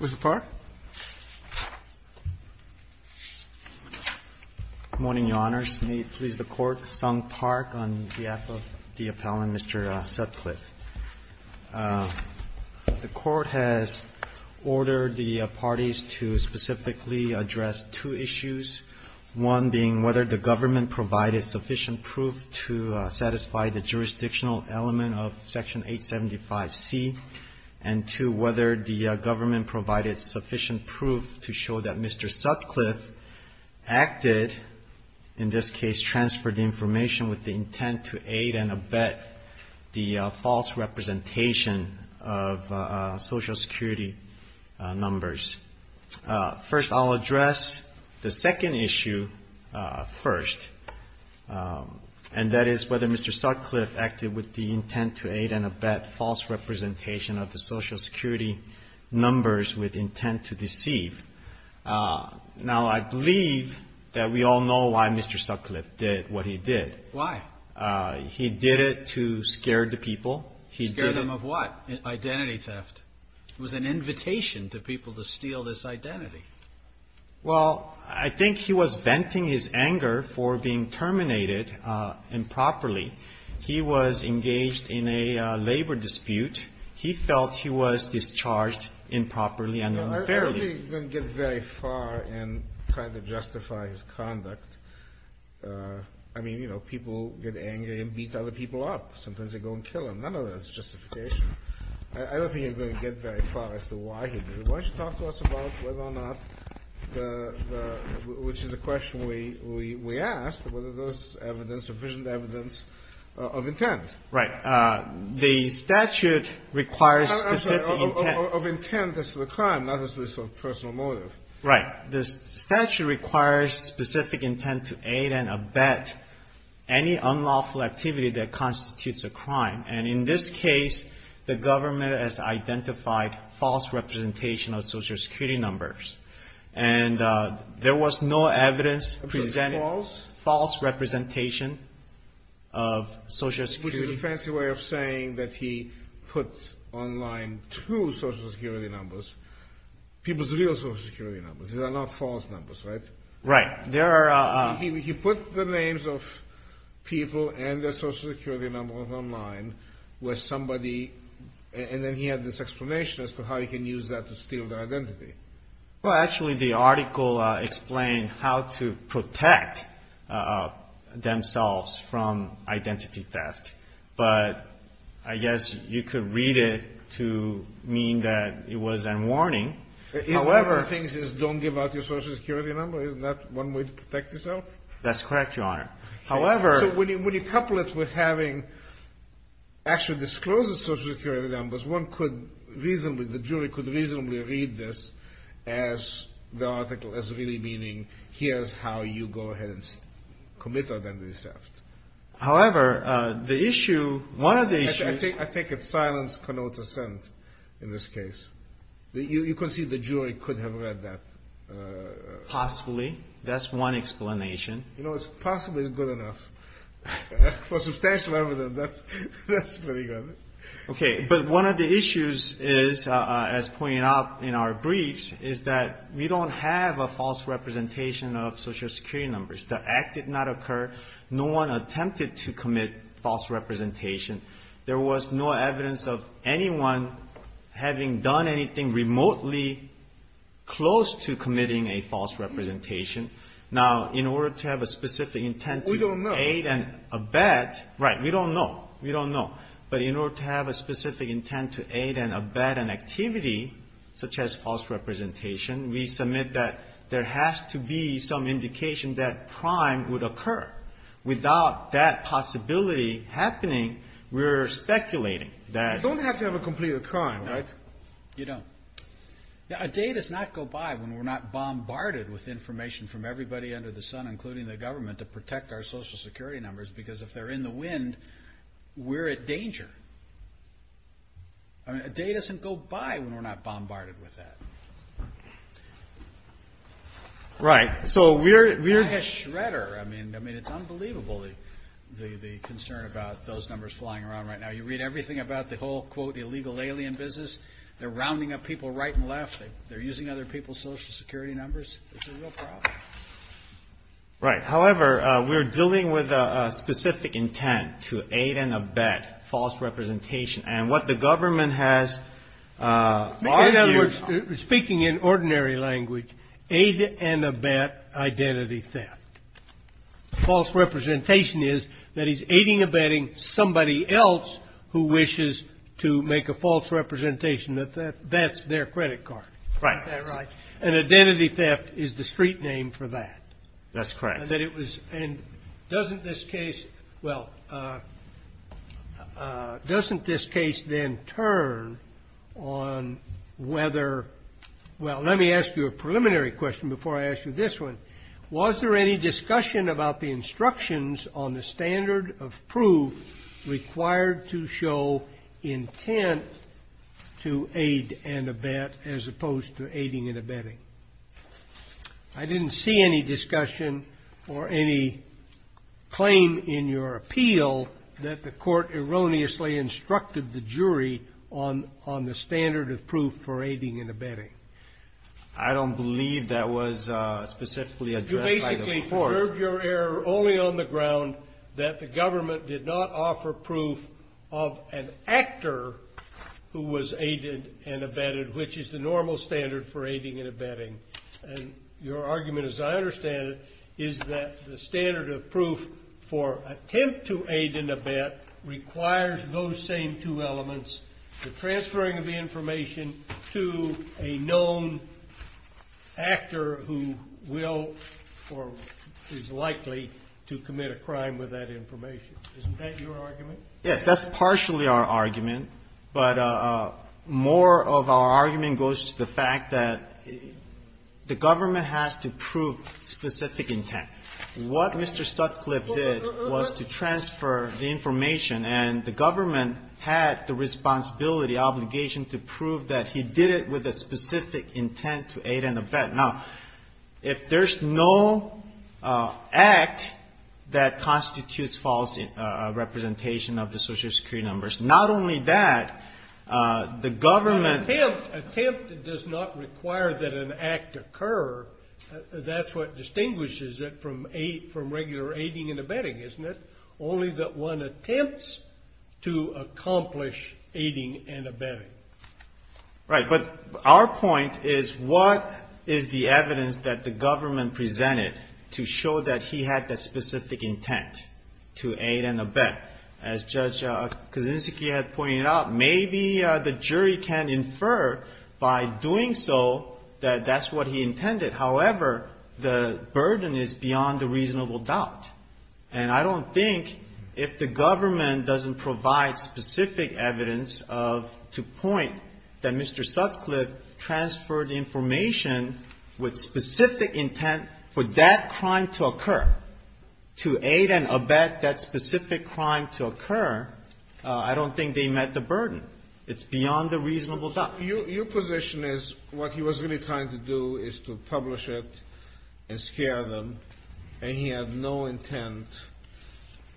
Good morning, Your Honors. May it please the Court, Sung Park, on behalf of the appellant, Mr. Sutcliffe. The Court has ordered the parties to specifically address two issues, one being whether the government provided sufficient proof to satisfy the jurisdictional element of Section 875C, and two, whether the government provided sufficient proof to show that Mr. Sutcliffe acted, in this case transferred information with the intent to aid and abet the false representation of Social Security numbers. First I'll address the second issue first, and that is whether Mr. Sutcliffe acted with the intent to aid and abet false representation of the Social Security numbers with intent to deceive. Now, I believe that we all know why Mr. Sutcliffe did what he did. Why? He did it to scare the people. Scare them of what? Identity theft. It was an invitation to people to steal this identity. Well, I think he was venting his anger for being terminated improperly. He was engaged in a labor dispute. He felt he was discharged improperly and unfairly. I don't think he's going to get very far in trying to justify his conduct. I mean, you know, people get angry and beat other people up. Sometimes they go and kill them. None of that is justification. I don't think he's going to get very far as to why he did it. Why don't you talk to us about whether or not the — which is the question we asked, whether there's evidence, sufficient evidence of intent. Right. The statute requires specific intent. Of intent as to the crime, not as to the sort of personal motive. Right. The statute requires specific intent to aid and abet any unlawful activity that constitutes a crime. And in this case, the government has identified false representation of Social Security numbers. And there was no evidence presenting false representation of Social Security — Which is a fancy way of saying that he put online two Social Security numbers, people's real Social Security numbers. These are not false numbers, right? Right. There are — He put the names of people and their Social Security numbers online with somebody. And then he had this explanation as to how he can use that to steal their identity. Well, actually, the article explained how to protect themselves from identity theft. But I guess you could read it to mean that it was a warning. However — One of the things is don't give out your Social Security number. Isn't that one way to protect yourself? That's correct, Your Honor. However — So when you couple it with having actually disclosed the Social Security numbers, one could reasonably — the jury could reasonably read this as the article as really meaning, here's how you go ahead and commit identity theft. However, the issue — one of the issues — I think it's silence connotes assent in this case. You can see the jury could have read that. Possibly. That's one explanation. You know, it's possibly good enough. For substantial evidence, that's pretty good. Okay. But one of the issues is, as pointed out in our briefs, is that we don't have a false representation of Social Security numbers. The act did not occur. No one attempted to commit false representation. There was no evidence of anyone having done anything remotely close to committing a false representation. Now, in order to have a specific intent to aid and abet — We don't know. Right. We don't know. We don't know. But in order to have a specific intent to aid and abet an activity such as false representation, we submit that there has to be some indication that crime would occur. Without that possibility happening, we're speculating that — You don't have to have a complete crime, right? You don't. A day does not go by when we're not bombarded with information from everybody under the sun, including the government, to protect our Social Security numbers, because if they're in the wind, we're at danger. I mean, a day doesn't go by when we're not bombarded with that. Right. So we're — It's unbelievable, the concern about those numbers flying around right now. You read everything about the whole, quote, illegal alien business. They're rounding up people right and left. They're using other people's Social Security numbers. It's a real problem. Right. However, we're dealing with a specific intent to aid and abet false representation. And what the government has argued — Speaking in ordinary language, aid and abet identity theft. False representation is that he's aiding and abetting somebody else who wishes to make a false representation that that's their credit card. Right. Is that right? And identity theft is the street name for that. That's correct. And that it was — and doesn't this case — well, doesn't this case then turn on whether — well, let me ask you a preliminary question before I ask you this one. Was there any discussion about the instructions on the standard of proof required to show intent to aid and abet as opposed to aiding and abetting? I didn't see any discussion or any claim in your appeal that the court erroneously instructed the jury on the standard of proof for aiding and abetting. I don't believe that was specifically addressed by the court. You basically preserved your error only on the ground that the government did not offer proof of an actor who was aided and abetted, which is the normal standard for aiding and abetting. And your argument, as I understand it, is that the standard of proof for attempt to aid and abet requires those same two elements, the transferring of the information to a known actor who will or is likely to commit a crime with that information. Isn't that your argument? Yes. That's partially our argument. But more of our argument goes to the fact that the government has to prove specific intent. What Mr. Sutcliffe did was to transfer the information, and the government had the responsibility, obligation, to prove that he did it with a specific intent to aid and abet. Now, if there's no act that constitutes false representation of the Social Security numbers, not only that, the government attempt does not require that an act occur. That's what distinguishes it from aid, from regular aiding and abetting, isn't it? Only that one attempts to accomplish aiding and abetting. Right. But our point is what is the evidence that the government presented to show that he had the specific intent to aid and abet? As Judge Kaczynski had pointed out, maybe the jury can infer by doing so that that's what he intended. However, the burden is beyond a reasonable doubt. And I don't think if the government doesn't provide specific evidence of to point that Mr. Sutcliffe transferred information with specific intent for that crime to occur, to aid and abet that specific crime to occur, I don't think they met the burden. It's beyond a reasonable doubt. Your position is what he was really trying to do is to publish it and scare them, and he had no intent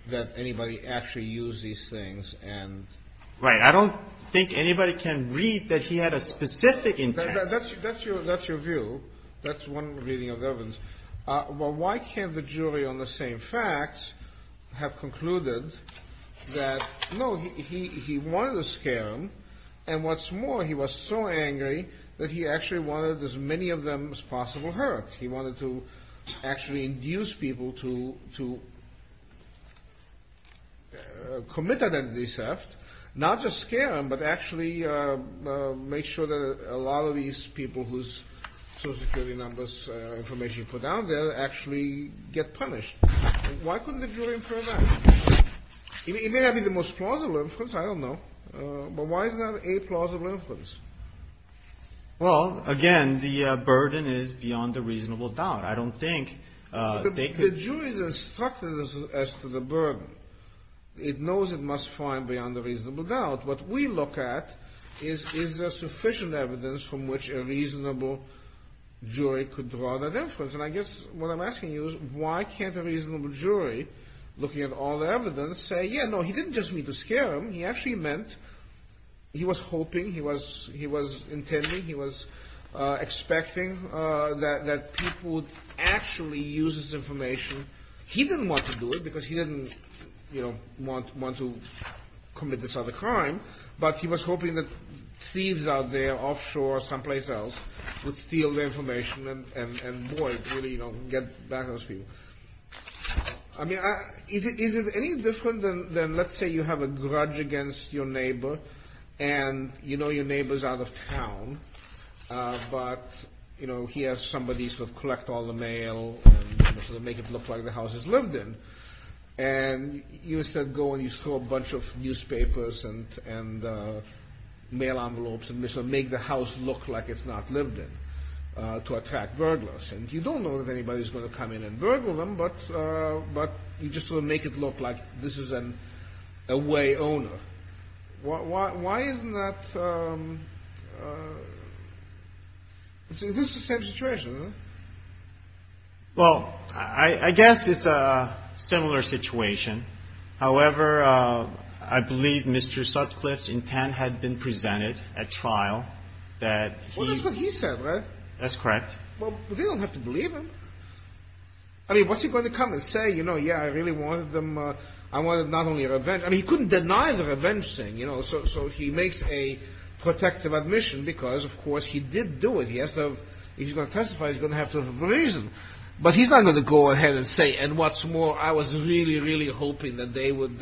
that anybody actually use these things and – Right. I don't think anybody can read that he had a specific intent. That's your view. That's one reading of the evidence. Well, why can't the jury on the same facts have concluded that, no, he wanted to scare them, and what's more, he was so angry that he actually wanted as many of them as possible hurt. He wanted to actually induce people to commit identity theft, not just scare them, but actually make sure that a lot of these people whose Social Security numbers information put out there actually get punished. Why couldn't the jury infer that? It may not be the most plausible inference, I don't know, but why is that a plausible inference? Well, again, the burden is beyond a reasonable doubt. I don't think they could – The jury is instructed as to the burden. It knows it must find beyond a reasonable doubt. What we look at is is there sufficient evidence from which a reasonable jury could draw that inference, and I guess what I'm asking you is why can't a reasonable jury, looking at all the evidence, say, yeah, no, he didn't just mean to scare them. He actually meant – he was hoping, he was intending, he was expecting that people would actually use this information. He didn't want to do it because he didn't want to commit this other crime, but he was hoping that thieves out there offshore someplace else would steal the information and, boy, really get back at those people. I mean, is it any different than, let's say, you have a grudge against your neighbor and you know your neighbor's out of town, but, you know, he has somebody sort of collect all the mail and sort of make it look like the house he's lived in, and you instead go and you throw a bunch of newspapers and mail envelopes and make the house look like it's not lived in to attract burglars, and you don't know if anybody's going to come in and burgle them, but you just sort of make it look like this is an away owner. Why isn't that – is this the same situation? Well, I guess it's a similar situation. However, I believe Mr. Sutcliffe's intent had been presented at trial that he – Well, that's what he said, right? That's correct. Well, they don't have to believe him. I mean, what's he going to come and say, you know, yeah, I really wanted them – I wanted not only revenge – I mean, he couldn't deny the revenge thing, you know, so he makes a protective admission because, of course, he did do it. He has to have – if he's going to testify, he's going to have to have a reason. But he's not going to go ahead and say, and what's more, I was really, really hoping that they would –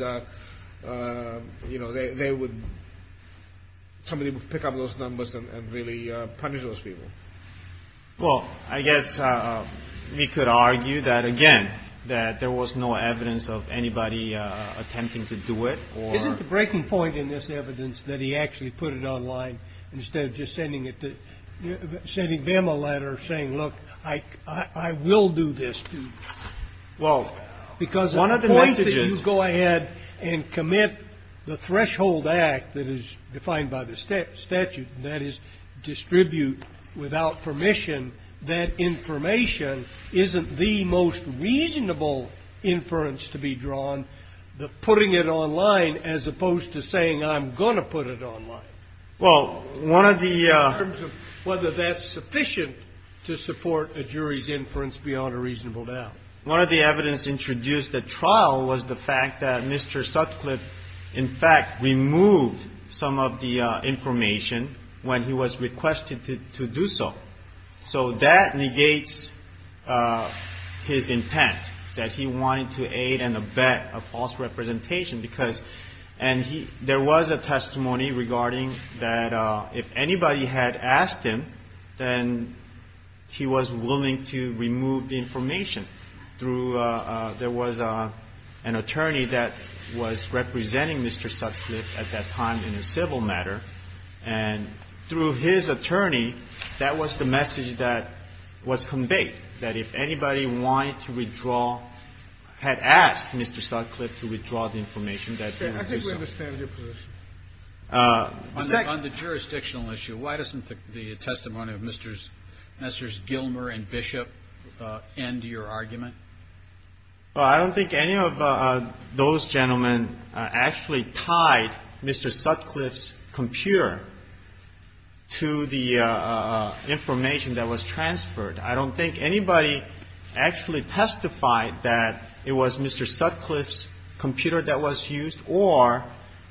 you know, they would – somebody would pick up those numbers and really punish those people. Well, I guess we could argue that, again, that there was no evidence of anybody attempting to do it or – Isn't the breaking point in this evidence that he actually put it online instead of just sending it to – sending them a letter saying, look, I will do this to you? Well, one of the messages – Because the point that you go ahead and commit the threshold act that is defined by the statute, that is distribute without permission that information isn't the most reasonable inference to be drawn, the putting it online as opposed to saying, I'm going to put it online. Well, one of the – In terms of whether that's sufficient to support a jury's inference beyond a reasonable doubt. One of the evidence introduced at trial was the fact that Mr. Sutcliffe, in fact, removed some of the information when he was requested to do so. So that negates his intent that he wanted to aid and abet a false representation because – and he – there was a testimony regarding that if anybody had asked him, then he was willing to remove the information through – there was an attorney that was representing Mr. Sutcliffe at that time in a civil matter, and through his attorney, that was the message that was conveyed, that if anybody wanted to withdraw – had asked Mr. Sutcliffe to withdraw the information, that he would do so. I think we understand your position. On the jurisdictional issue, why doesn't the testimony of Mr. Gilmer and Bishop end your argument? Well, I don't think any of those gentlemen actually tied Mr. Sutcliffe's computer to the information that was transferred. I don't think anybody actually testified that it was Mr. Sutcliffe's computer that was used or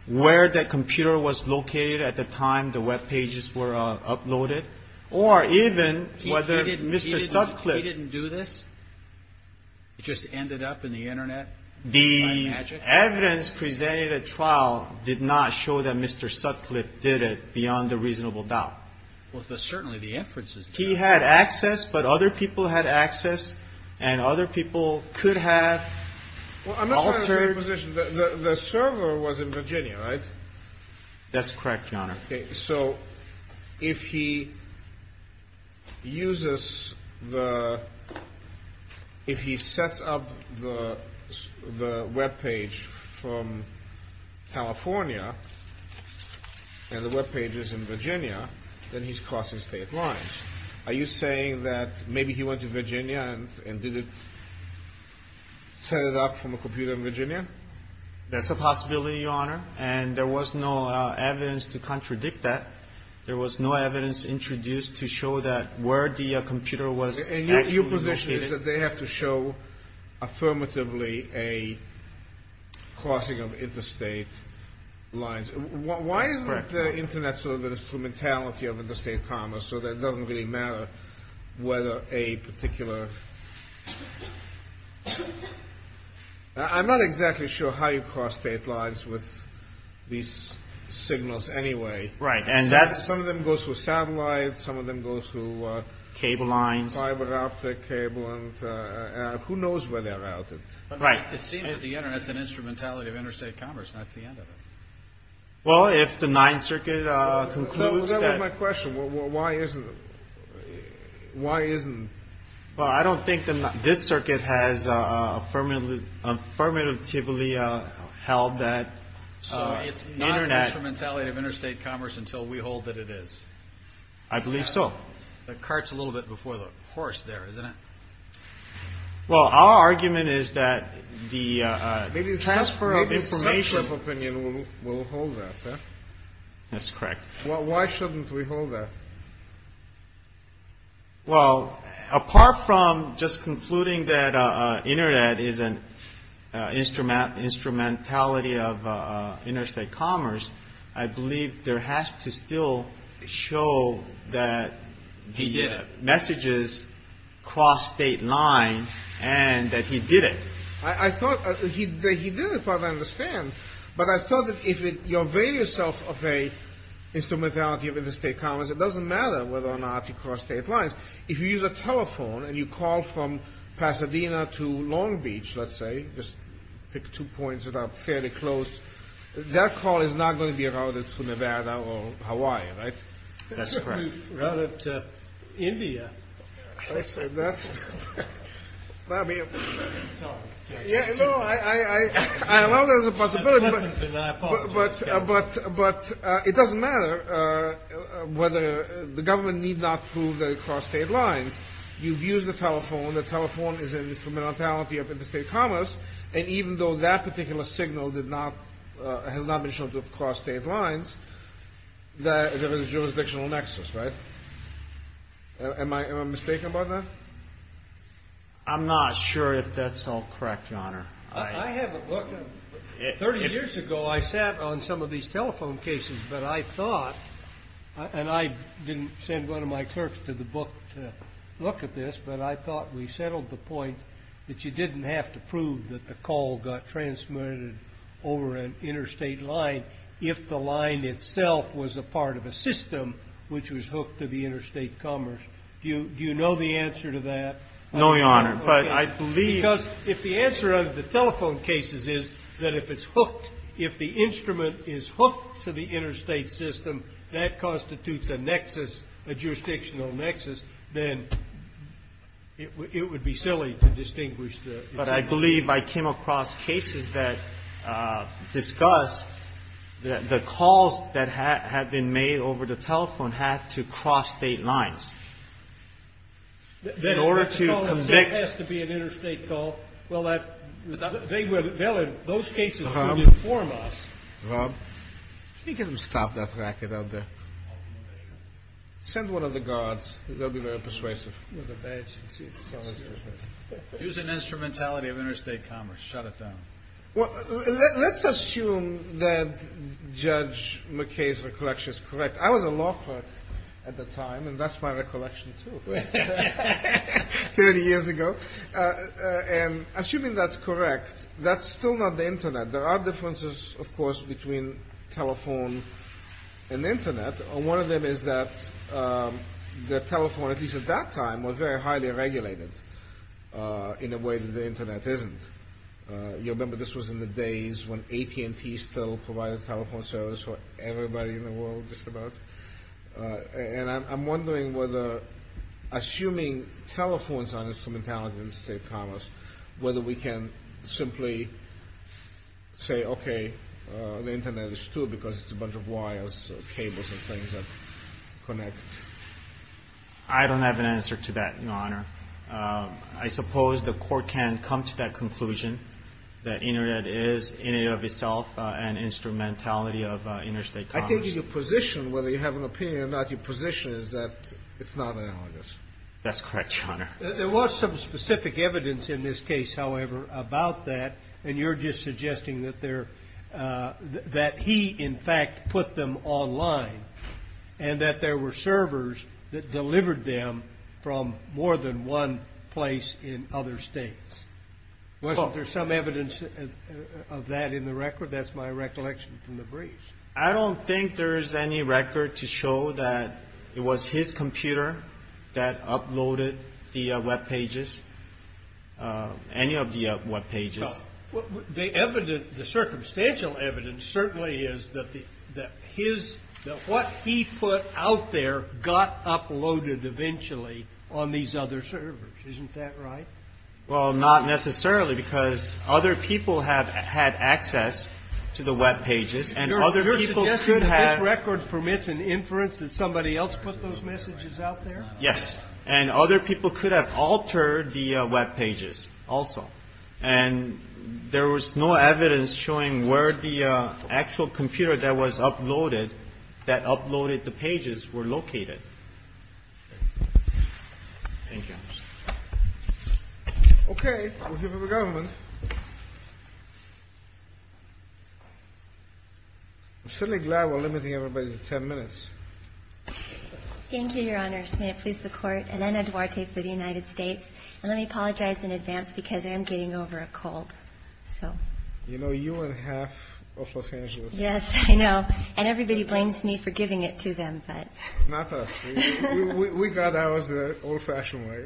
where that computer was located at the time the Web pages were uploaded or even whether Mr. Sutcliffe – He didn't do this? It just ended up in the Internet by magic? The evidence presented at trial did not show that Mr. Sutcliffe did it beyond a reasonable doubt. Well, certainly the inferences – He had access, but other people had access, and other people could have altered – Well, I'm not sure I understand your position. The server was in Virginia, right? That's correct, Your Honor. So if he uses the – if he sets up the Web page from California and the Web page is in Virginia, then he's crossing state lines. Are you saying that maybe he went to Virginia and did it – set it up from a computer in Virginia? That's a possibility, Your Honor, and there was no evidence to contradict that. There was no evidence introduced to show that where the computer was actually located. And your position is that they have to show affirmatively a crossing of interstate lines. Why isn't the Internet sort of an instrumentality of interstate commerce so that it doesn't really matter whether a particular – I'm not exactly sure how you cross state lines with these signals anyway. Right, and that's – Some of them go through satellites. Some of them go through – Cable lines. Fiber optic cable, and who knows where they're routed. Right. It seems that the Internet is an instrumentality of interstate commerce, and that's the end of it. Well, if the Ninth Circuit concludes that – That was my question. Why isn't – why isn't – Well, I don't think this circuit has affirmatively held that the Internet – So it's not an instrumentality of interstate commerce until we hold that it is? I believe so. The cart's a little bit before the horse there, isn't it? Well, our argument is that the transfer of information – Maybe a substantive opinion will hold that, huh? That's correct. Well, why shouldn't we hold that? Well, apart from just concluding that the Internet is an instrumentality of interstate commerce, I believe there has to still show that the messages cross state lines and that he did it. I thought – he did it, as far as I understand, but I thought that if you avail yourself of an instrumentality of interstate commerce, it doesn't matter whether or not you cross state lines. If you use a telephone and you call from Pasadena to Long Beach, let's say, just pick two points that are fairly close, that call is not going to be routed to Nevada or Hawaii, right? That's correct. It's going to be routed to India. That's – I mean – Sorry. Yeah, no, I allow that as a possibility, but it doesn't matter whether – the government need not prove that it crossed state lines. You've used the telephone. The telephone is an instrumentality of interstate commerce, and even though that particular signal did not – has not been shown to have crossed state lines, there is a jurisdictional nexus, right? Am I mistaken about that? I'm not sure if that's all correct, Your Honor. I have a book. Thirty years ago I sat on some of these telephone cases, but I thought – and I didn't send one of my clerks to the book to look at this, but I thought we settled the point that you didn't have to prove that the call got transmitted over an interstate line if the line itself was a part of a system which was hooked to the interstate commerce. Do you know the answer to that? No, Your Honor, but I believe – Because if the answer of the telephone cases is that if it's hooked, if the instrument is hooked to the interstate system, that constitutes a nexus, a jurisdictional nexus, then it would be silly to distinguish the – But I believe I came across cases that discuss the calls that had been made over the telephone had to cross state lines. In order to convict – The call itself has to be an interstate call. Well, that – they will – those cases will inform us. Rob, can you get him to stop that racket out there? I'll do my best, Your Honor. Send one of the guards. They'll be very persuasive. With a badge. See, it's telling you. Use an instrumentality of interstate commerce. Shut it down. Well, let's assume that Judge McKay's recollection is correct. I was a law clerk at the time, and that's my recollection, too, 30 years ago. And assuming that's correct, that's still not the Internet. There are differences, of course, between telephone and Internet. One of them is that the telephone, at least at that time, was very highly regulated in a way that the Internet isn't. You remember this was in the days when AT&T still provided telephone service for everybody in the world, just about. And I'm wondering whether, assuming telephones are an instrumentality of interstate commerce, whether we can simply say, okay, the Internet is, too, because it's a bunch of wires, cables, and things that connect. I don't have an answer to that, Your Honor. I suppose the Court can come to that conclusion, that Internet is, in and of itself, an instrumentality of interstate commerce. I think your position, whether you have an opinion or not, your position is that it's not analogous. That's correct, Your Honor. There was some specific evidence in this case, however, about that. And you're just suggesting that he, in fact, put them online and that there were servers that delivered them from more than one place in other states. Wasn't there some evidence of that in the record? That's my recollection from the briefs. I don't think there's any record to show that it was his computer that uploaded the Web pages, any of the Web pages. The evidence, the circumstantial evidence certainly is that his, that what he put out there got uploaded eventually on these other servers. Isn't that right? Well, not necessarily, because other people have had access to the Web pages. Your suggestion is that this record permits an inference that somebody else put those messages out there? Yes. And other people could have altered the Web pages also. And there was no evidence showing where the actual computer that was uploaded, that uploaded the pages, were located. Thank you. Okay. We'll give it to the government. I'm certainly glad we're limiting everybody to 10 minutes. Thank you, Your Honor. May it please the Court. Elena Duarte for the United States. And let me apologize in advance because I am getting over a cold, so. You know, you and half of Los Angeles. Yes, I know. And everybody blames me for giving it to them, but. Not us. We got ours the old-fashioned way.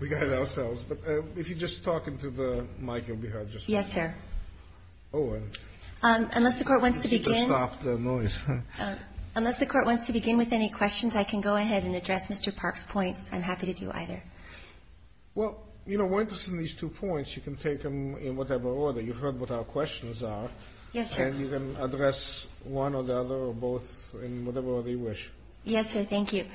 We got it ourselves. But if you just talk into the mic, you'll be heard just fine. Yes, sir. Unless the Court wants to begin. If you could stop the noise. Unless the Court wants to begin with any questions, I can go ahead and address Mr. Park's points. I'm happy to do either. Well, you know, we're interested in these two points. You can take them in whatever order. You've heard what our questions are. Yes, sir. And you can address one or the other or both in whatever order you wish. Yes, sir. Thank you.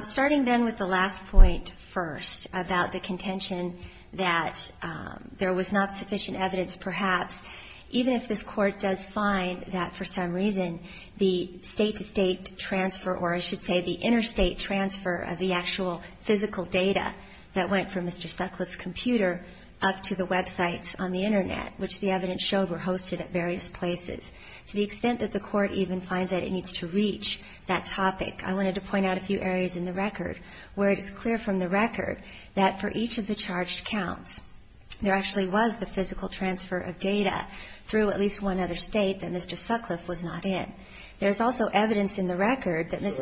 Starting then with the last point first about the contention that there was not sufficient evidence, perhaps, even if this Court does find that for some reason the state-to-state transfer, or I should say the interstate transfer of the actual physical data that went from Mr. Sutcliffe's computer up to the websites on the Internet, which the evidence showed were hosted at various places. To the extent that the Court even finds that it needs to reach that topic, I wanted to point out a few areas in the record where it is clear from the record that for each of the charged counts, there actually was the physical transfer of data through at least one other state that Mr. Sutcliffe was not in. There's also evidence in the record that Mr.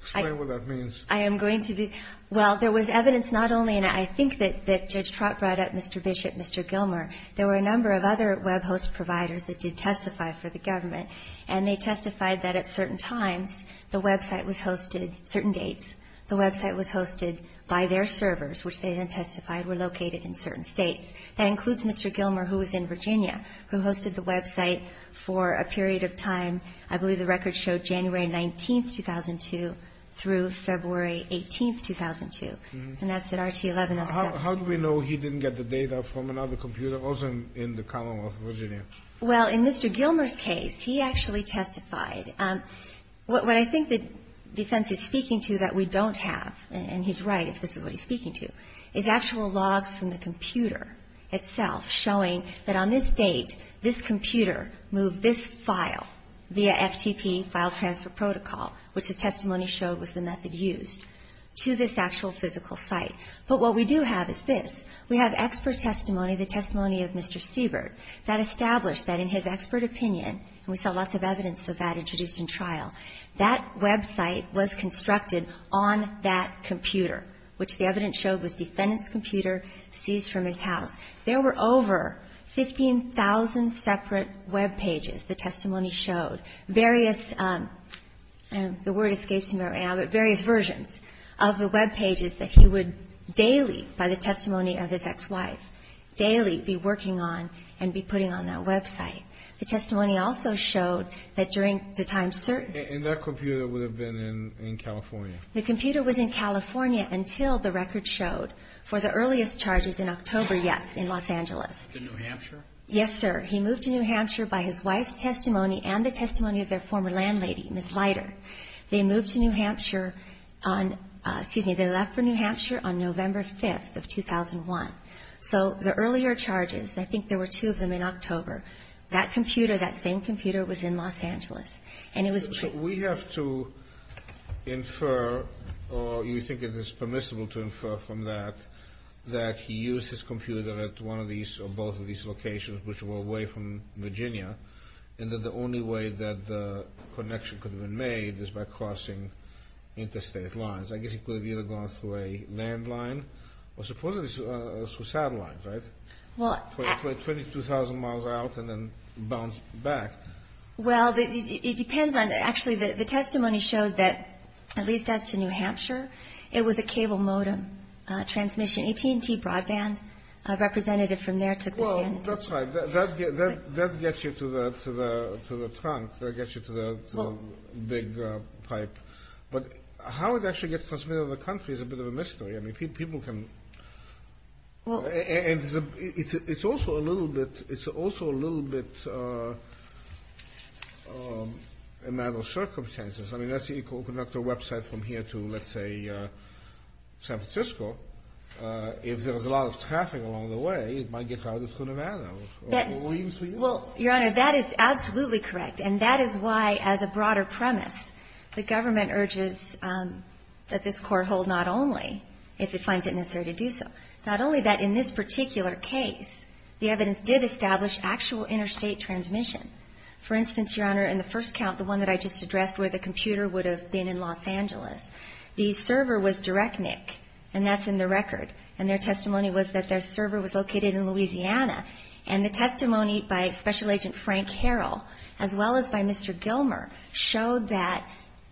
Explain what that means. I am going to do. Well, there was evidence not only in, I think, that Judge Trott brought up, Mr. Bishop, Mr. Gilmer, there were a number of other web host providers that did testify for the government. And they testified that at certain times the website was hosted, certain dates, the website was hosted by their servers, which they then testified were located in certain states. That includes Mr. Gilmer, who was in Virginia, who hosted the website for a period of time. I believe the record showed January 19, 2002, through February 18, 2002. And that's at RT-1107. How do we know he didn't get the data from another computer, also in the Commonwealth of Virginia? Well, in Mr. Gilmer's case, he actually testified. What I think the defense is speaking to that we don't have, and he's right if this is what he's speaking to, is actual logs from the computer itself showing that on this date, this computer moved this file via FTP, file transfer protocol, which the testimony showed was the method used, to this actual physical site. But what we do have is this. We have expert testimony, the testimony of Mr. Siebert, that established that in his expert opinion, and we saw lots of evidence of that introduced in trial, that website was constructed on that computer, which the evidence showed was defendant's computer seized from his house. There were over 15,000 separate web pages, the testimony showed, various the word daily by the testimony of his ex-wife, daily be working on and be putting on that website. The testimony also showed that during the time certain. And that computer would have been in California. The computer was in California until the record showed for the earliest charges in October, yes, in Los Angeles. In New Hampshire? Yes, sir. He moved to New Hampshire by his wife's testimony and the testimony of their former landlady, Ms. Leiter. They moved to New Hampshire on, excuse me, they left for New Hampshire on November 5th of 2001. So the earlier charges, I think there were two of them in October, that computer, that same computer was in Los Angeles. And it was. So we have to infer, or you think it is permissible to infer from that, that he used his computer at one of these or both of these locations, which were away from Virginia, and that the only way that the connection could have been made is by crossing interstate lines. I guess he could have either gone through a landline or supposedly through a satellite, right? Well. 22,000 miles out and then bounced back. Well, it depends on, actually, the testimony showed that, at least as to New Hampshire, it was a cable modem, a transmission AT&T broadband representative from there took the stand. Well, that's right. That gets you to the trunk. That gets you to the big pipe. But how it actually gets transmitted to the country is a bit of a mystery. I mean, people can. And it's also a little bit, it's also a little bit a matter of circumstances. I mean, that's the Equal Conductor website from here to, let's say, San Francisco. If there was a lot of traffic along the way, it might get routed through Nevada. Well, Your Honor, that is absolutely correct. And that is why, as a broader premise, the government urges that this court hold not only, if it finds it necessary to do so, not only that in this particular case, the evidence did establish actual interstate transmission. For instance, Your Honor, in the first count, the one that I just addressed where the computer would have been in Los Angeles, the server was direct NIC, and that's in the record. And their testimony was that their server was located in Louisiana. And the testimony by Special Agent Frank Harrell, as well as by Mr. Gilmer, showed that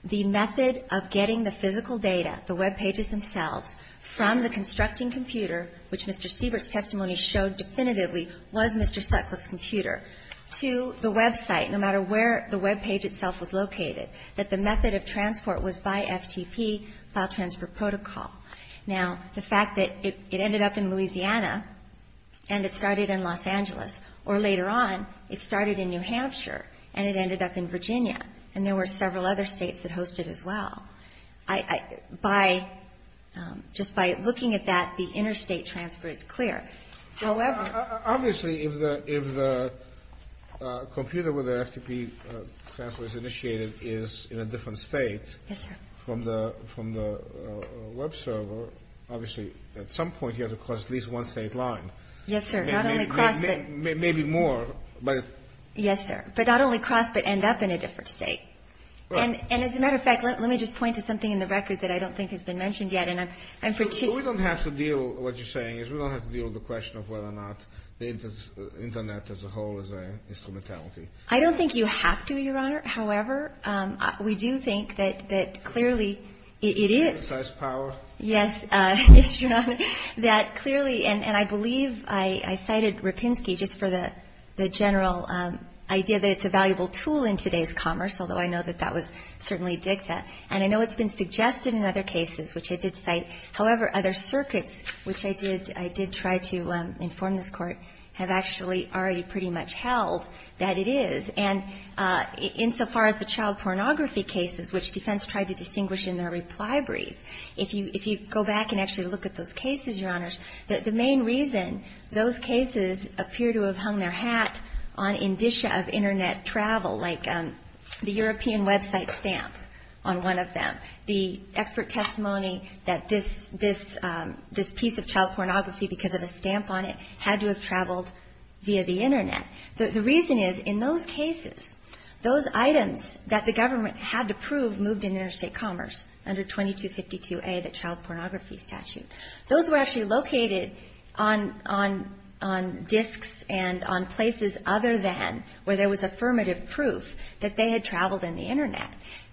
the method of getting the physical data, the webpages themselves, from the constructing computer, which Mr. Siebert's testimony showed definitively was Mr. Sutcliffe's computer, to the website, no matter where the webpage itself was located, that the method of transport was by FTP, file transfer protocol. Now, the fact that it ended up in Louisiana and it started in Los Angeles, or later on, it started in New Hampshire and it ended up in Virginia, and there were several other States that hosted as well, I by just by looking at that, the interstate transfer is clear. However. Obviously, if the computer where the FTP transfer is initiated is in a different state. Yes, sir. From the web server, obviously, at some point you have to cross at least one state line. Yes, sir. Not only cross, but. Maybe more, but. Yes, sir. But not only cross, but end up in a different state. Right. And as a matter of fact, let me just point to something in the record that I don't think has been mentioned yet. And I'm particularly. We don't have to deal. What you're saying is we don't have to deal with the question of whether or not the Internet as a whole is a instrumentality. I don't think you have to, Your Honor. However, we do think that clearly it is. It has power. Yes, Your Honor. That clearly, and I believe I cited Rapinski just for the general idea that it's a valuable tool in today's commerce, although I know that that was certainly a dicta. And I know it's been suggested in other cases, which I did cite. However, other circuits, which I did try to inform this Court, have actually already pretty much held that it is. And insofar as the child pornography cases, which defense tried to distinguish in their reply brief, if you go back and actually look at those cases, Your Honors, the main reason those cases appear to have hung their hat on indicia of Internet travel, like the European website stamp on one of them, the expert testimony that this piece of child pornography, because of the stamp on it, had to have traveled via the Internet. The reason is, in those cases, those items that the government had to prove moved in interstate commerce under 2252A, the child pornography statute. Those were actually located on disks and on places other than where there was affirmative proof that they had traveled in the Internet.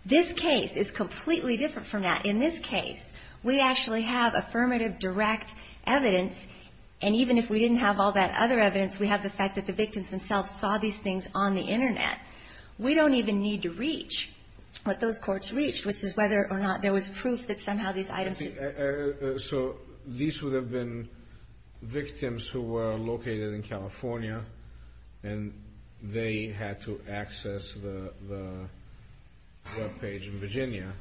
This case is completely different from that. In this case, we actually have affirmative direct evidence, and even if we didn't have all that other evidence, we have the fact that the victims themselves saw these things on the Internet. We don't even need to reach what those courts reached, which is whether or not there was proof that somehow these items... So these would have been victims who were located in California, and they had to access the webpage in Virginia,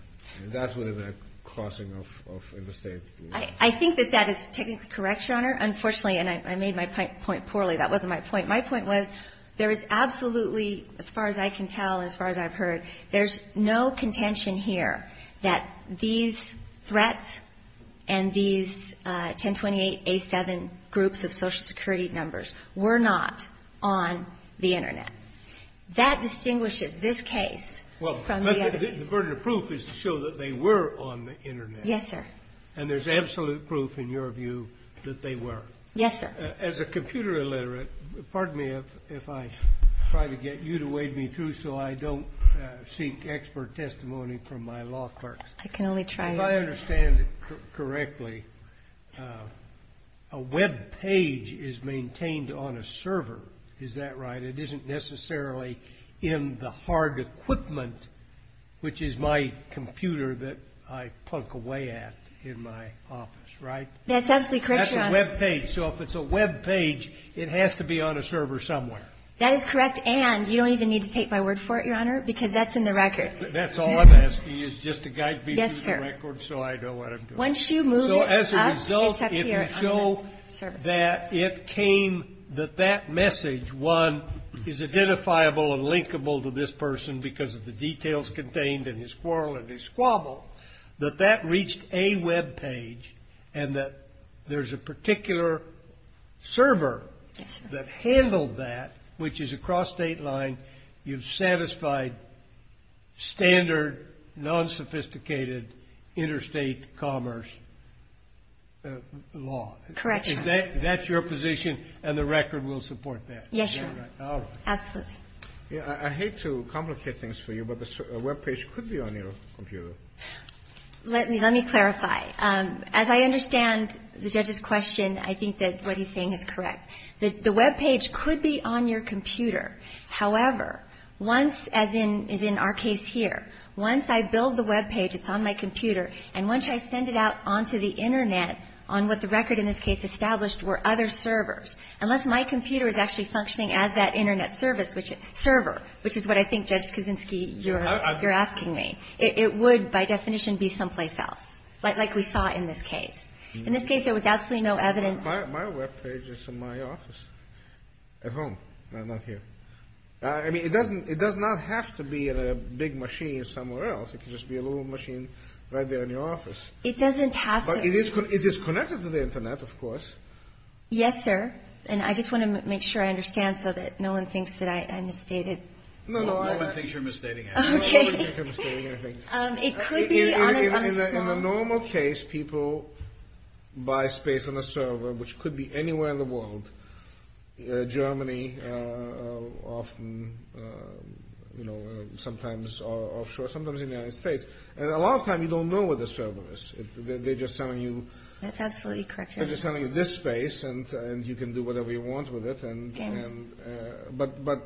and that would have been a crossing of interstate. I think that that is technically correct, Your Honor. Unfortunately, and I made my point poorly. That wasn't my point. My point was there is absolutely, as far as I can tell, as far as I've heard, there's no contention here that these threats and these 1028A7 groups of Social Security numbers were not on the Internet. That distinguishes this case from the other. The burden of proof is to show that they were on the Internet. Yes, sir. And there's absolute proof in your view that they were. Yes, sir. As a computer illiterate, pardon me if I try to get you to wade me through so I don't seek expert testimony from my law clerks. I can only try. If I understand it correctly, a webpage is maintained on a server, is that right? It isn't necessarily in the hard equipment, which is my computer that I plunk away at in my office, right? That's absolutely correct, Your Honor. That's a webpage. So if it's a webpage, it has to be on a server somewhere. That is correct, and you don't even need to take my word for it, Your Honor, because that's in the record. That's all I'm asking is just to guide me through the record so I know what I'm doing. Once you move it up, it's up here on the server. So as a result, if you show that it came, that that message, one, is identifiable and linkable to this person because of the details contained in his quarrel and his squabble, that that reached a webpage and that there's a particular server that handled that, which is across state line, you've satisfied standard, non-sophisticated interstate commerce law. Correct, Your Honor. That's your position, and the record will support that. Yes, Your Honor. All right. Absolutely. I hate to complicate things for you, but a webpage could be on your computer. Let me clarify. As I understand the judge's question, I think that what he's saying is correct. The webpage could be on your computer. However, once, as in our case here, once I build the webpage, it's on my computer, and once I send it out onto the Internet on what the record in this case established were other servers, unless my computer is actually functioning as that Internet service, server, which is what I think, Judge Kuczynski, you're asking me, it would, by definition, be someplace else. Like we saw in this case. In this case, there was absolutely no evidence. My webpage is in my office at home. I'm not here. I mean, it doesn't, it does not have to be in a big machine somewhere else. It could just be a little machine right there in your office. It doesn't have to. But it is connected to the Internet, of course. Yes, sir, and I just want to make sure I understand so that no one thinks that I misstated. No one thinks you're misstating anything. Okay. No one thinks you're misstating anything. In the normal case, people buy space on the server, which could be anywhere in the world. Germany, often, you know, sometimes offshore, sometimes in the United States, and a lot of times you don't know where the server is. They're just selling you this space, and you can do whatever you want with it, but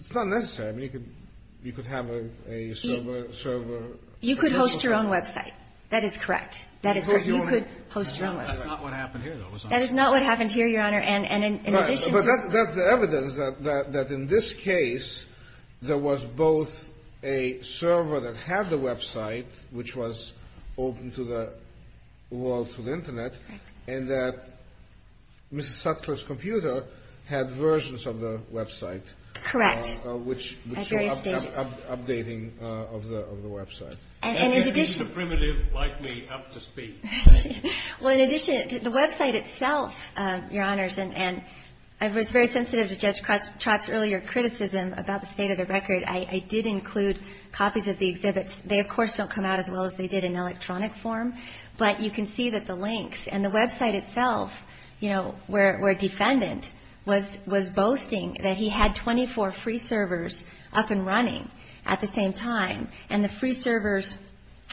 it's not necessary. I mean, you could have a server. You could host your own website. That is correct. That is correct. You could host your own website. That's not what happened here, though. That is not what happened here, Your Honor. And in addition to that. But that's the evidence that in this case, there was both a server that had the website, which was open to the world, to the Internet, and that Ms. Sutcliffe's computer had versions of the website. Correct. At various stages. Updating of the website. And this is the primitive like me up to speed. Well, in addition, the website itself, Your Honors, and I was very sensitive to Judge Trott's earlier criticism about the state of the record. I did include copies of the exhibits. They, of course, don't come out as well as they did in electronic form, but you can see that the links And the website itself, you know, where a defendant was boasting that he had 24 free servers up and running at the same time. And the free servers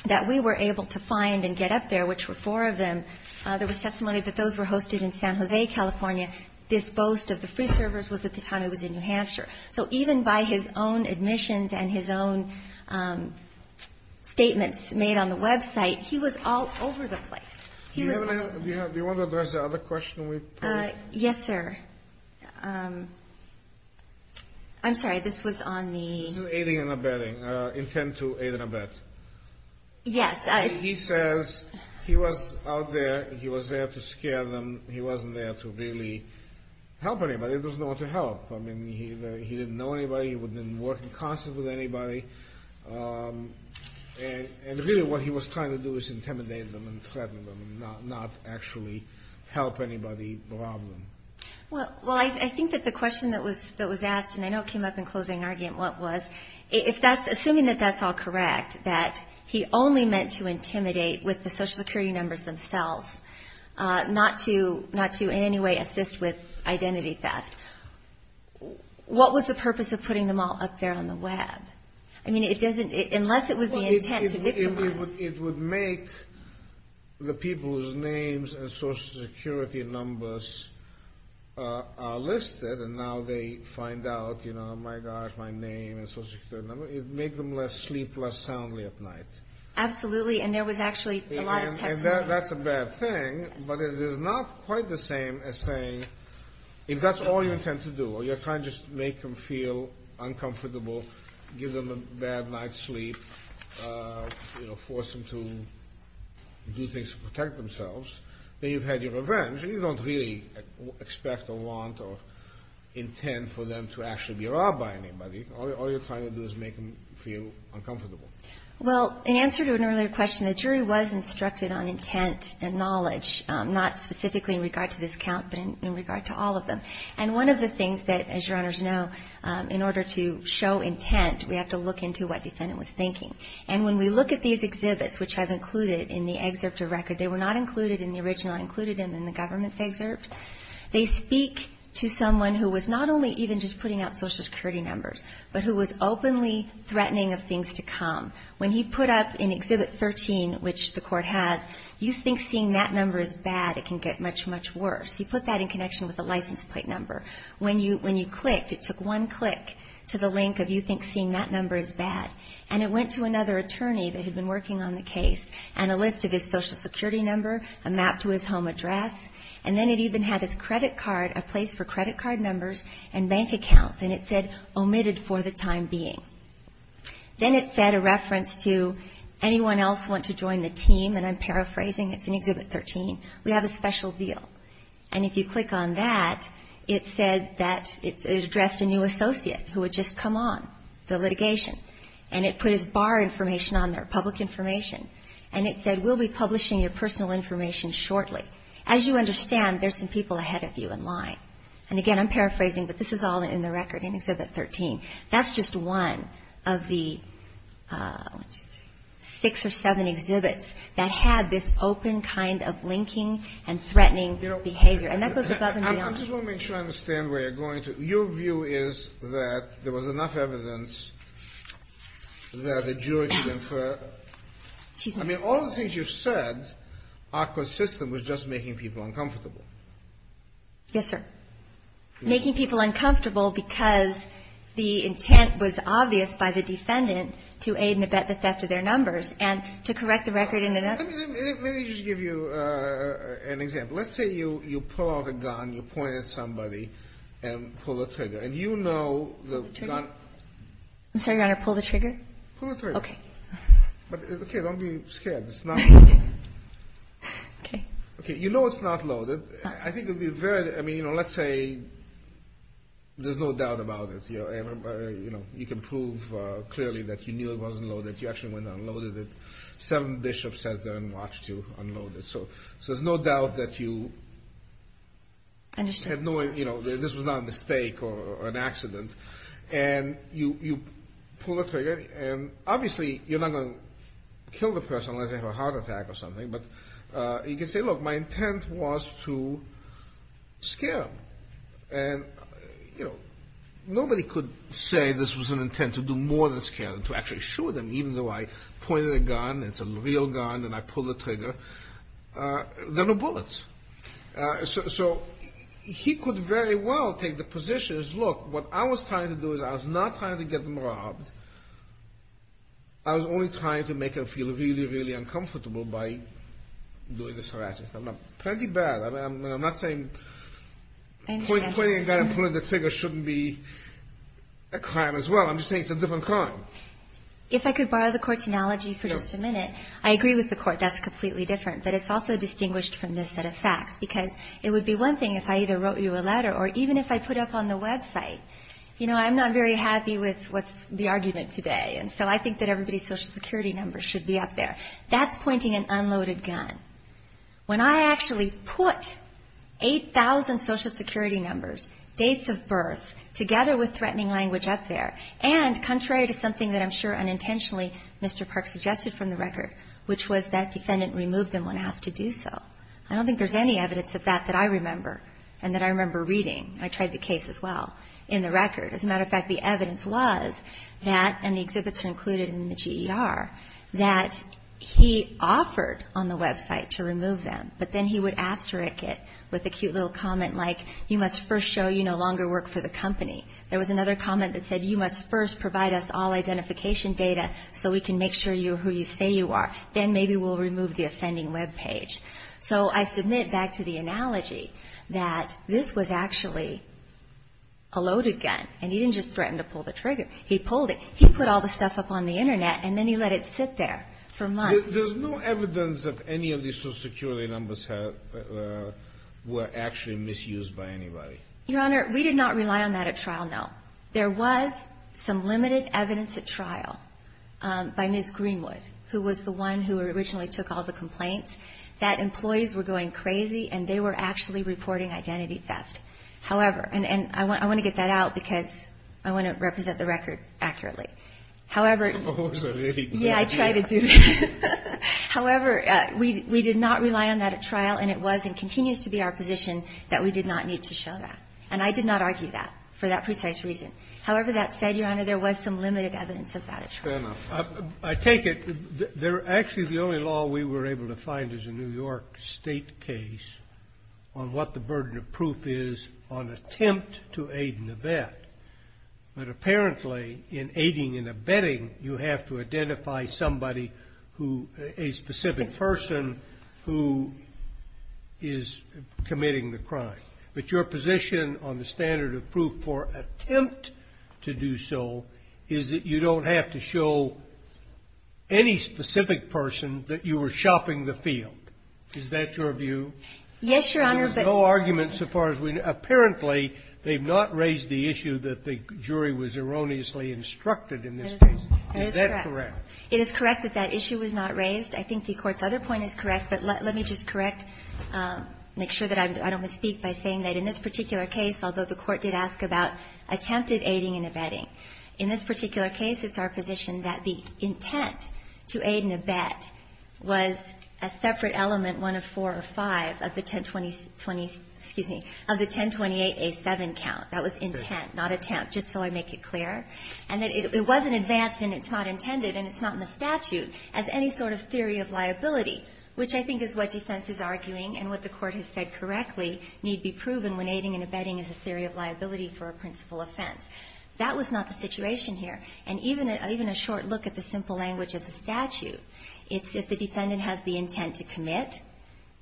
that we were able to find and get up there, which were four of them, there was testimony that those were hosted in San Jose, California. This boast of the free servers was at the time it was in New Hampshire. So even by his own admissions and his own statements made on the website, he was all over the place. Do you want to address the other question we put in? Yes, sir. I'm sorry, this was on the. Aiding and abetting, intent to aid and abet. Yes. He says he was out there, he was there to scare them, he wasn't there to really help anybody. There was no one to help. I mean, he didn't know anybody, he wouldn't work in concert with anybody. And really what he was trying to do was intimidate them and threaten them, not actually help anybody, rob them. Well, I think that the question that was asked, and I know it came up in closing argument, was assuming that that's all correct, that he only meant to intimidate with the Social Security numbers themselves, not to in any way assist with identity theft. What was the purpose of putting them all up there on the web? I mean, unless it was the intent to victimize. It would make the people whose names and Social Security numbers are listed, and now they find out, you know, my gosh, my name and Social Security number, it would make them sleep less soundly at night. Absolutely, and there was actually a lot of testimony. And that's a bad thing, but it is not quite the same as saying, if that's all you intend to do, or you're trying to just make them feel uncomfortable, give them a bad night's sleep, you know, force them to do things to protect themselves, then you've had your revenge. You don't really expect or want or intend for them to actually be robbed by anybody. All you're trying to do is make them feel uncomfortable. Well, in answer to an earlier question, the jury was instructed on intent and knowledge, not specifically in regard to this account, but in regard to all of them. And one of the things that, as Your Honors know, in order to show intent, we have to look into what defendant was thinking. And when we look at these exhibits, which I've included in the excerpt of record, they were not included in the original. I included them in the government's excerpt. They speak to someone who was not only even just putting out Social Security numbers, but who was openly threatening of things to come. When he put up in Exhibit 13, which the Court has, you think seeing that number is bad, it can get much, much worse. He put that in connection with a license plate number. When you clicked, it took one click to the link of you think seeing that number is bad. And it went to another attorney that had been working on the case and a list of his Social Security number, a map to his home address, and then it even had his credit card, a place for credit card numbers and bank accounts, and it said omitted for the time being. Then it said a reference to anyone else who wants to join the team, and I'm paraphrasing, it's in Exhibit 13, we have a special deal. And if you click on that, it said that it addressed a new associate who had just come on the litigation, and it put his bar information on there, public information, and it said we'll be publishing your personal information shortly. As you understand, there's some people ahead of you in line. And again, I'm paraphrasing, but this is all in the record in Exhibit 13. That's just one of the six or seven exhibits that had this open kind of linking and threatening behavior. And that goes above and beyond. I just want to make sure I understand where you're going to. Your view is that there was enough evidence that a jury should infer. I mean, all the things you've said are consistent with just making people uncomfortable. Yes, sir. Making people uncomfortable because the intent was obvious by the defendant to aid and abet the theft of their numbers and to correct the record in the numbers. Let me just give you an example. Let's say you pull out a gun, you point at somebody and pull the trigger. And you know the gun. I'm sorry, Your Honor, pull the trigger? Pull the trigger. Okay. Okay. Don't be scared. It's not loaded. Okay. Okay. You know it's not loaded. I think it would be very, I mean, you know, let's say there's no doubt about it. You know, you can prove clearly that you knew it wasn't loaded. You actually went and unloaded it. Seven bishops sat there and watched you unload it. So there's no doubt that you had no, you know, this was not a mistake or an accident. And you pull the trigger. And obviously you're not going to kill the person unless they have a heart attack or something. But you can say, look, my intent was to scare them. And, you know, nobody could say this was an intent to do more than scare them, to actually shoot them, even though I pointed a gun, it's a real gun, and I pulled the trigger. There are no bullets. So he could very well take the position as, look, what I was trying to do is I was not trying to get them robbed. I was only trying to make them feel really, really uncomfortable by doing this harassment. I'm not saying pointing a gun and pulling the trigger shouldn't be a crime as well. I'm just saying it's a different crime. If I could borrow the Court's analogy for just a minute. I agree with the Court. That's completely different. But it's also distinguished from this set of facts because it would be one thing if I either wrote you a letter or even if I put up on the website, you know, I'm not very happy with the argument today. And so I think that everybody's Social Security number should be up there. That's pointing an unloaded gun. When I actually put 8,000 Social Security numbers, dates of birth, together with threatening language up there, and contrary to something that I'm sure unintentionally Mr. Park suggested from the record, which was that defendant removed them when asked to do so. I don't think there's any evidence of that that I remember. And that I remember reading. I tried the case as well in the record. As a matter of fact, the evidence was that, and the exhibits are included in the GER, that he offered on the website to remove them. But then he would asterisk it with a cute little comment like, you must first show you no longer work for the company. There was another comment that said, you must first provide us all identification data so we can make sure you're who you say you are. Then maybe we'll remove the offending webpage. So I submit back to the analogy that this was actually a loaded gun. And he didn't just threaten to pull the trigger. He pulled it. He put all the stuff up on the Internet, and then he let it sit there for months. There's no evidence that any of these Social Security numbers were actually misused by anybody. Your Honor, we did not rely on that at trial, no. There was some limited evidence at trial by Ms. Greenwood, who was the one who originally took all the complaints, that employees were going crazy and they were actually reporting identity theft. However, and I want to get that out because I want to represent the record accurately. However, yeah, I try to do that. However, we did not rely on that at trial, and it was and continues to be our position that we did not need to show that. And I did not argue that for that precise reason. However, that said, Your Honor, there was some limited evidence of that at trial. Scalia. Fair enough. I take it they're actually the only law we were able to find as a New York State case on what the burden of proof is on attempt to aid and abet. But apparently, in aiding and abetting, you have to identify somebody who a specific person who is committing the crime. But your position on the standard of proof for attempt to do so is that you don't have to show any specific person that you were shopping the field. Is that your view? Yes, Your Honor, but no argument so far as we know. Apparently, they've not raised the issue that the jury was erroneously instructed in this case. Is that correct? It is correct that that issue was not raised. I think the Court's other point is correct. But let me just correct, make sure that I don't misspeak by saying that in this particular case, although the Court did ask about attempted aiding and abetting, in this particular case it's our position that the intent to aid and abet was a separate element, one of four or five, of the 1020 20, excuse me, of the 1028A7 count. That was intent, not attempt, just so I make it clear. And that it wasn't advanced and it's not intended and it's not in the statute as any sort of theory of liability, which I think is what defense is arguing and what the Court has said correctly need be proven when aiding and abetting is a theory of liability for a principal offense. That was not the situation here. And even a short look at the simple language of the statute, it's if the defendant has the intent to commit,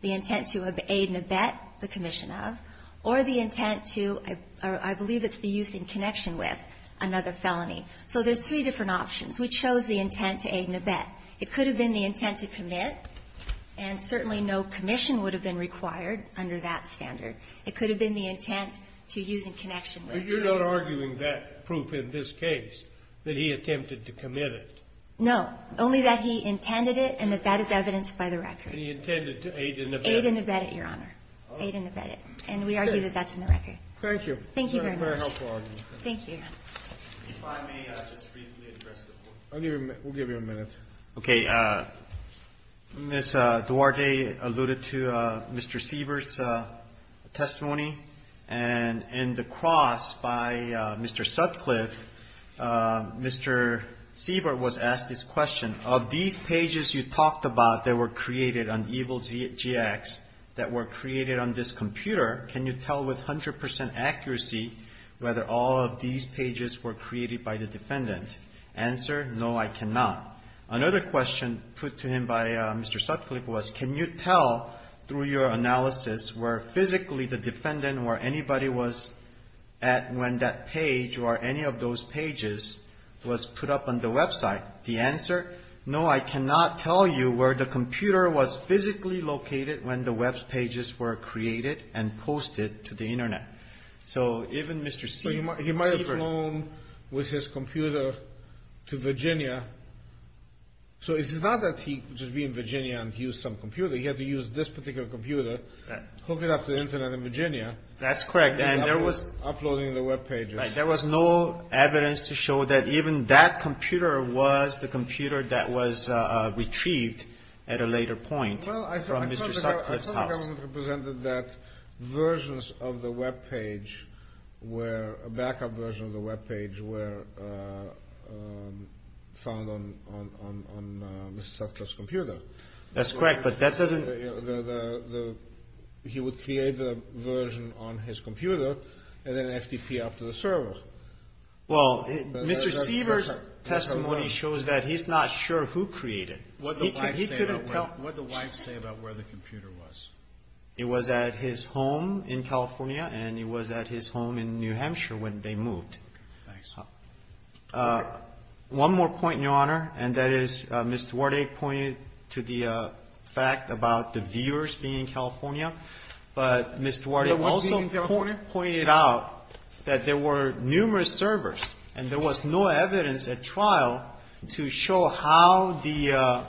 the intent to aid and abet the commission of, or the intent to, or I believe it's the use in connection with, another felony. So there's three different options. We chose the intent to aid and abet. It could have been the intent to commit. And certainly no commission would have been required under that standard. It could have been the intent to use in connection with. Scalia. But you're not arguing that proof in this case, that he attempted to commit it? No. Only that he intended it and that that is evidenced by the record. And he intended to aid and abet it? Aid and abet it, Your Honor. Aid and abet it. And we argue that that's in the record. Thank you. Thank you very much. Thank you. If I may just briefly address the court. We'll give you a minute. Okay. Ms. Duarte alluded to Mr. Siebert's testimony. And in the cross by Mr. Sutcliffe, Mr. Siebert was asked this question. Of these pages you talked about that were created on Evil GX, that were created on this computer, can you tell with 100% accuracy whether all of these pages were created by the defendant? Answer, no, I cannot. Another question put to him by Mr. Sutcliffe was, can you tell through your analysis where physically the defendant or anybody was at when that page or any of those pages was put up on the website? The answer, no, I cannot tell you where the computer was physically located when the web pages were created and posted to the Internet. So even Mr. Siebert. He might have flown with his computer to Virginia. So it's not that he could just be in Virginia and use some computer. He had to use this particular computer, hook it up to the Internet in Virginia. That's correct. And there was. Uploading the web pages. Right. There was no evidence to show that even that computer was the computer that was retrieved at a later point from Mr. Sutcliffe. Mr. Sutcliffe's house. I thought the government represented that versions of the web page where a backup version of the web page were found on Mr. Sutcliffe's computer. That's correct, but that doesn't. He would create the version on his computer and then FTP up to the server. Well, Mr. Siebert's testimony shows that he's not sure who created. What did the wife say about where the computer was? It was at his home in California and it was at his home in New Hampshire when they moved. Thanks. One more point, Your Honor, and that is Ms. Duarte pointed to the fact about the viewers being in California. But Ms. Duarte also pointed out that there were numerous servers and there was no evidence at trial to show how the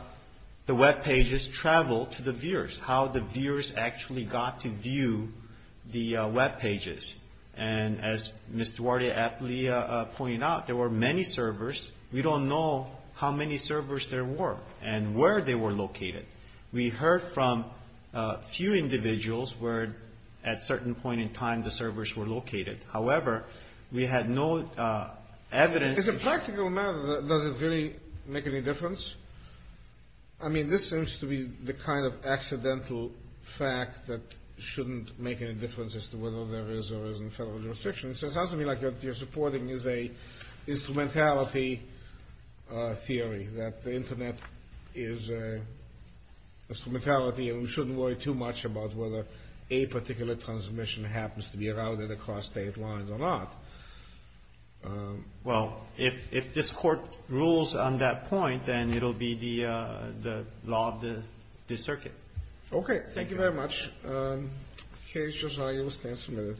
web pages traveled to the viewers, how the viewers actually got to view the web pages. And as Ms. Duarte aptly pointed out, there were many servers. We don't know how many servers there were and where they were located. We heard from a few individuals where at a certain point in time the servers were located. However, we had no evidence. As a practical matter, does it really make any difference? I mean, this seems to be the kind of accidental fact that shouldn't make any difference as to whether there is or isn't federal jurisdiction. It sounds to me like what you're supporting is an instrumentality theory, that the Internet is an instrumentality and we shouldn't worry too much about whether a particular transmission happens to be routed across state lines or not. Well, if this Court rules on that point, then it will be the law of the circuit. Okay, thank you very much. Case, Josiah, you may stand for a minute.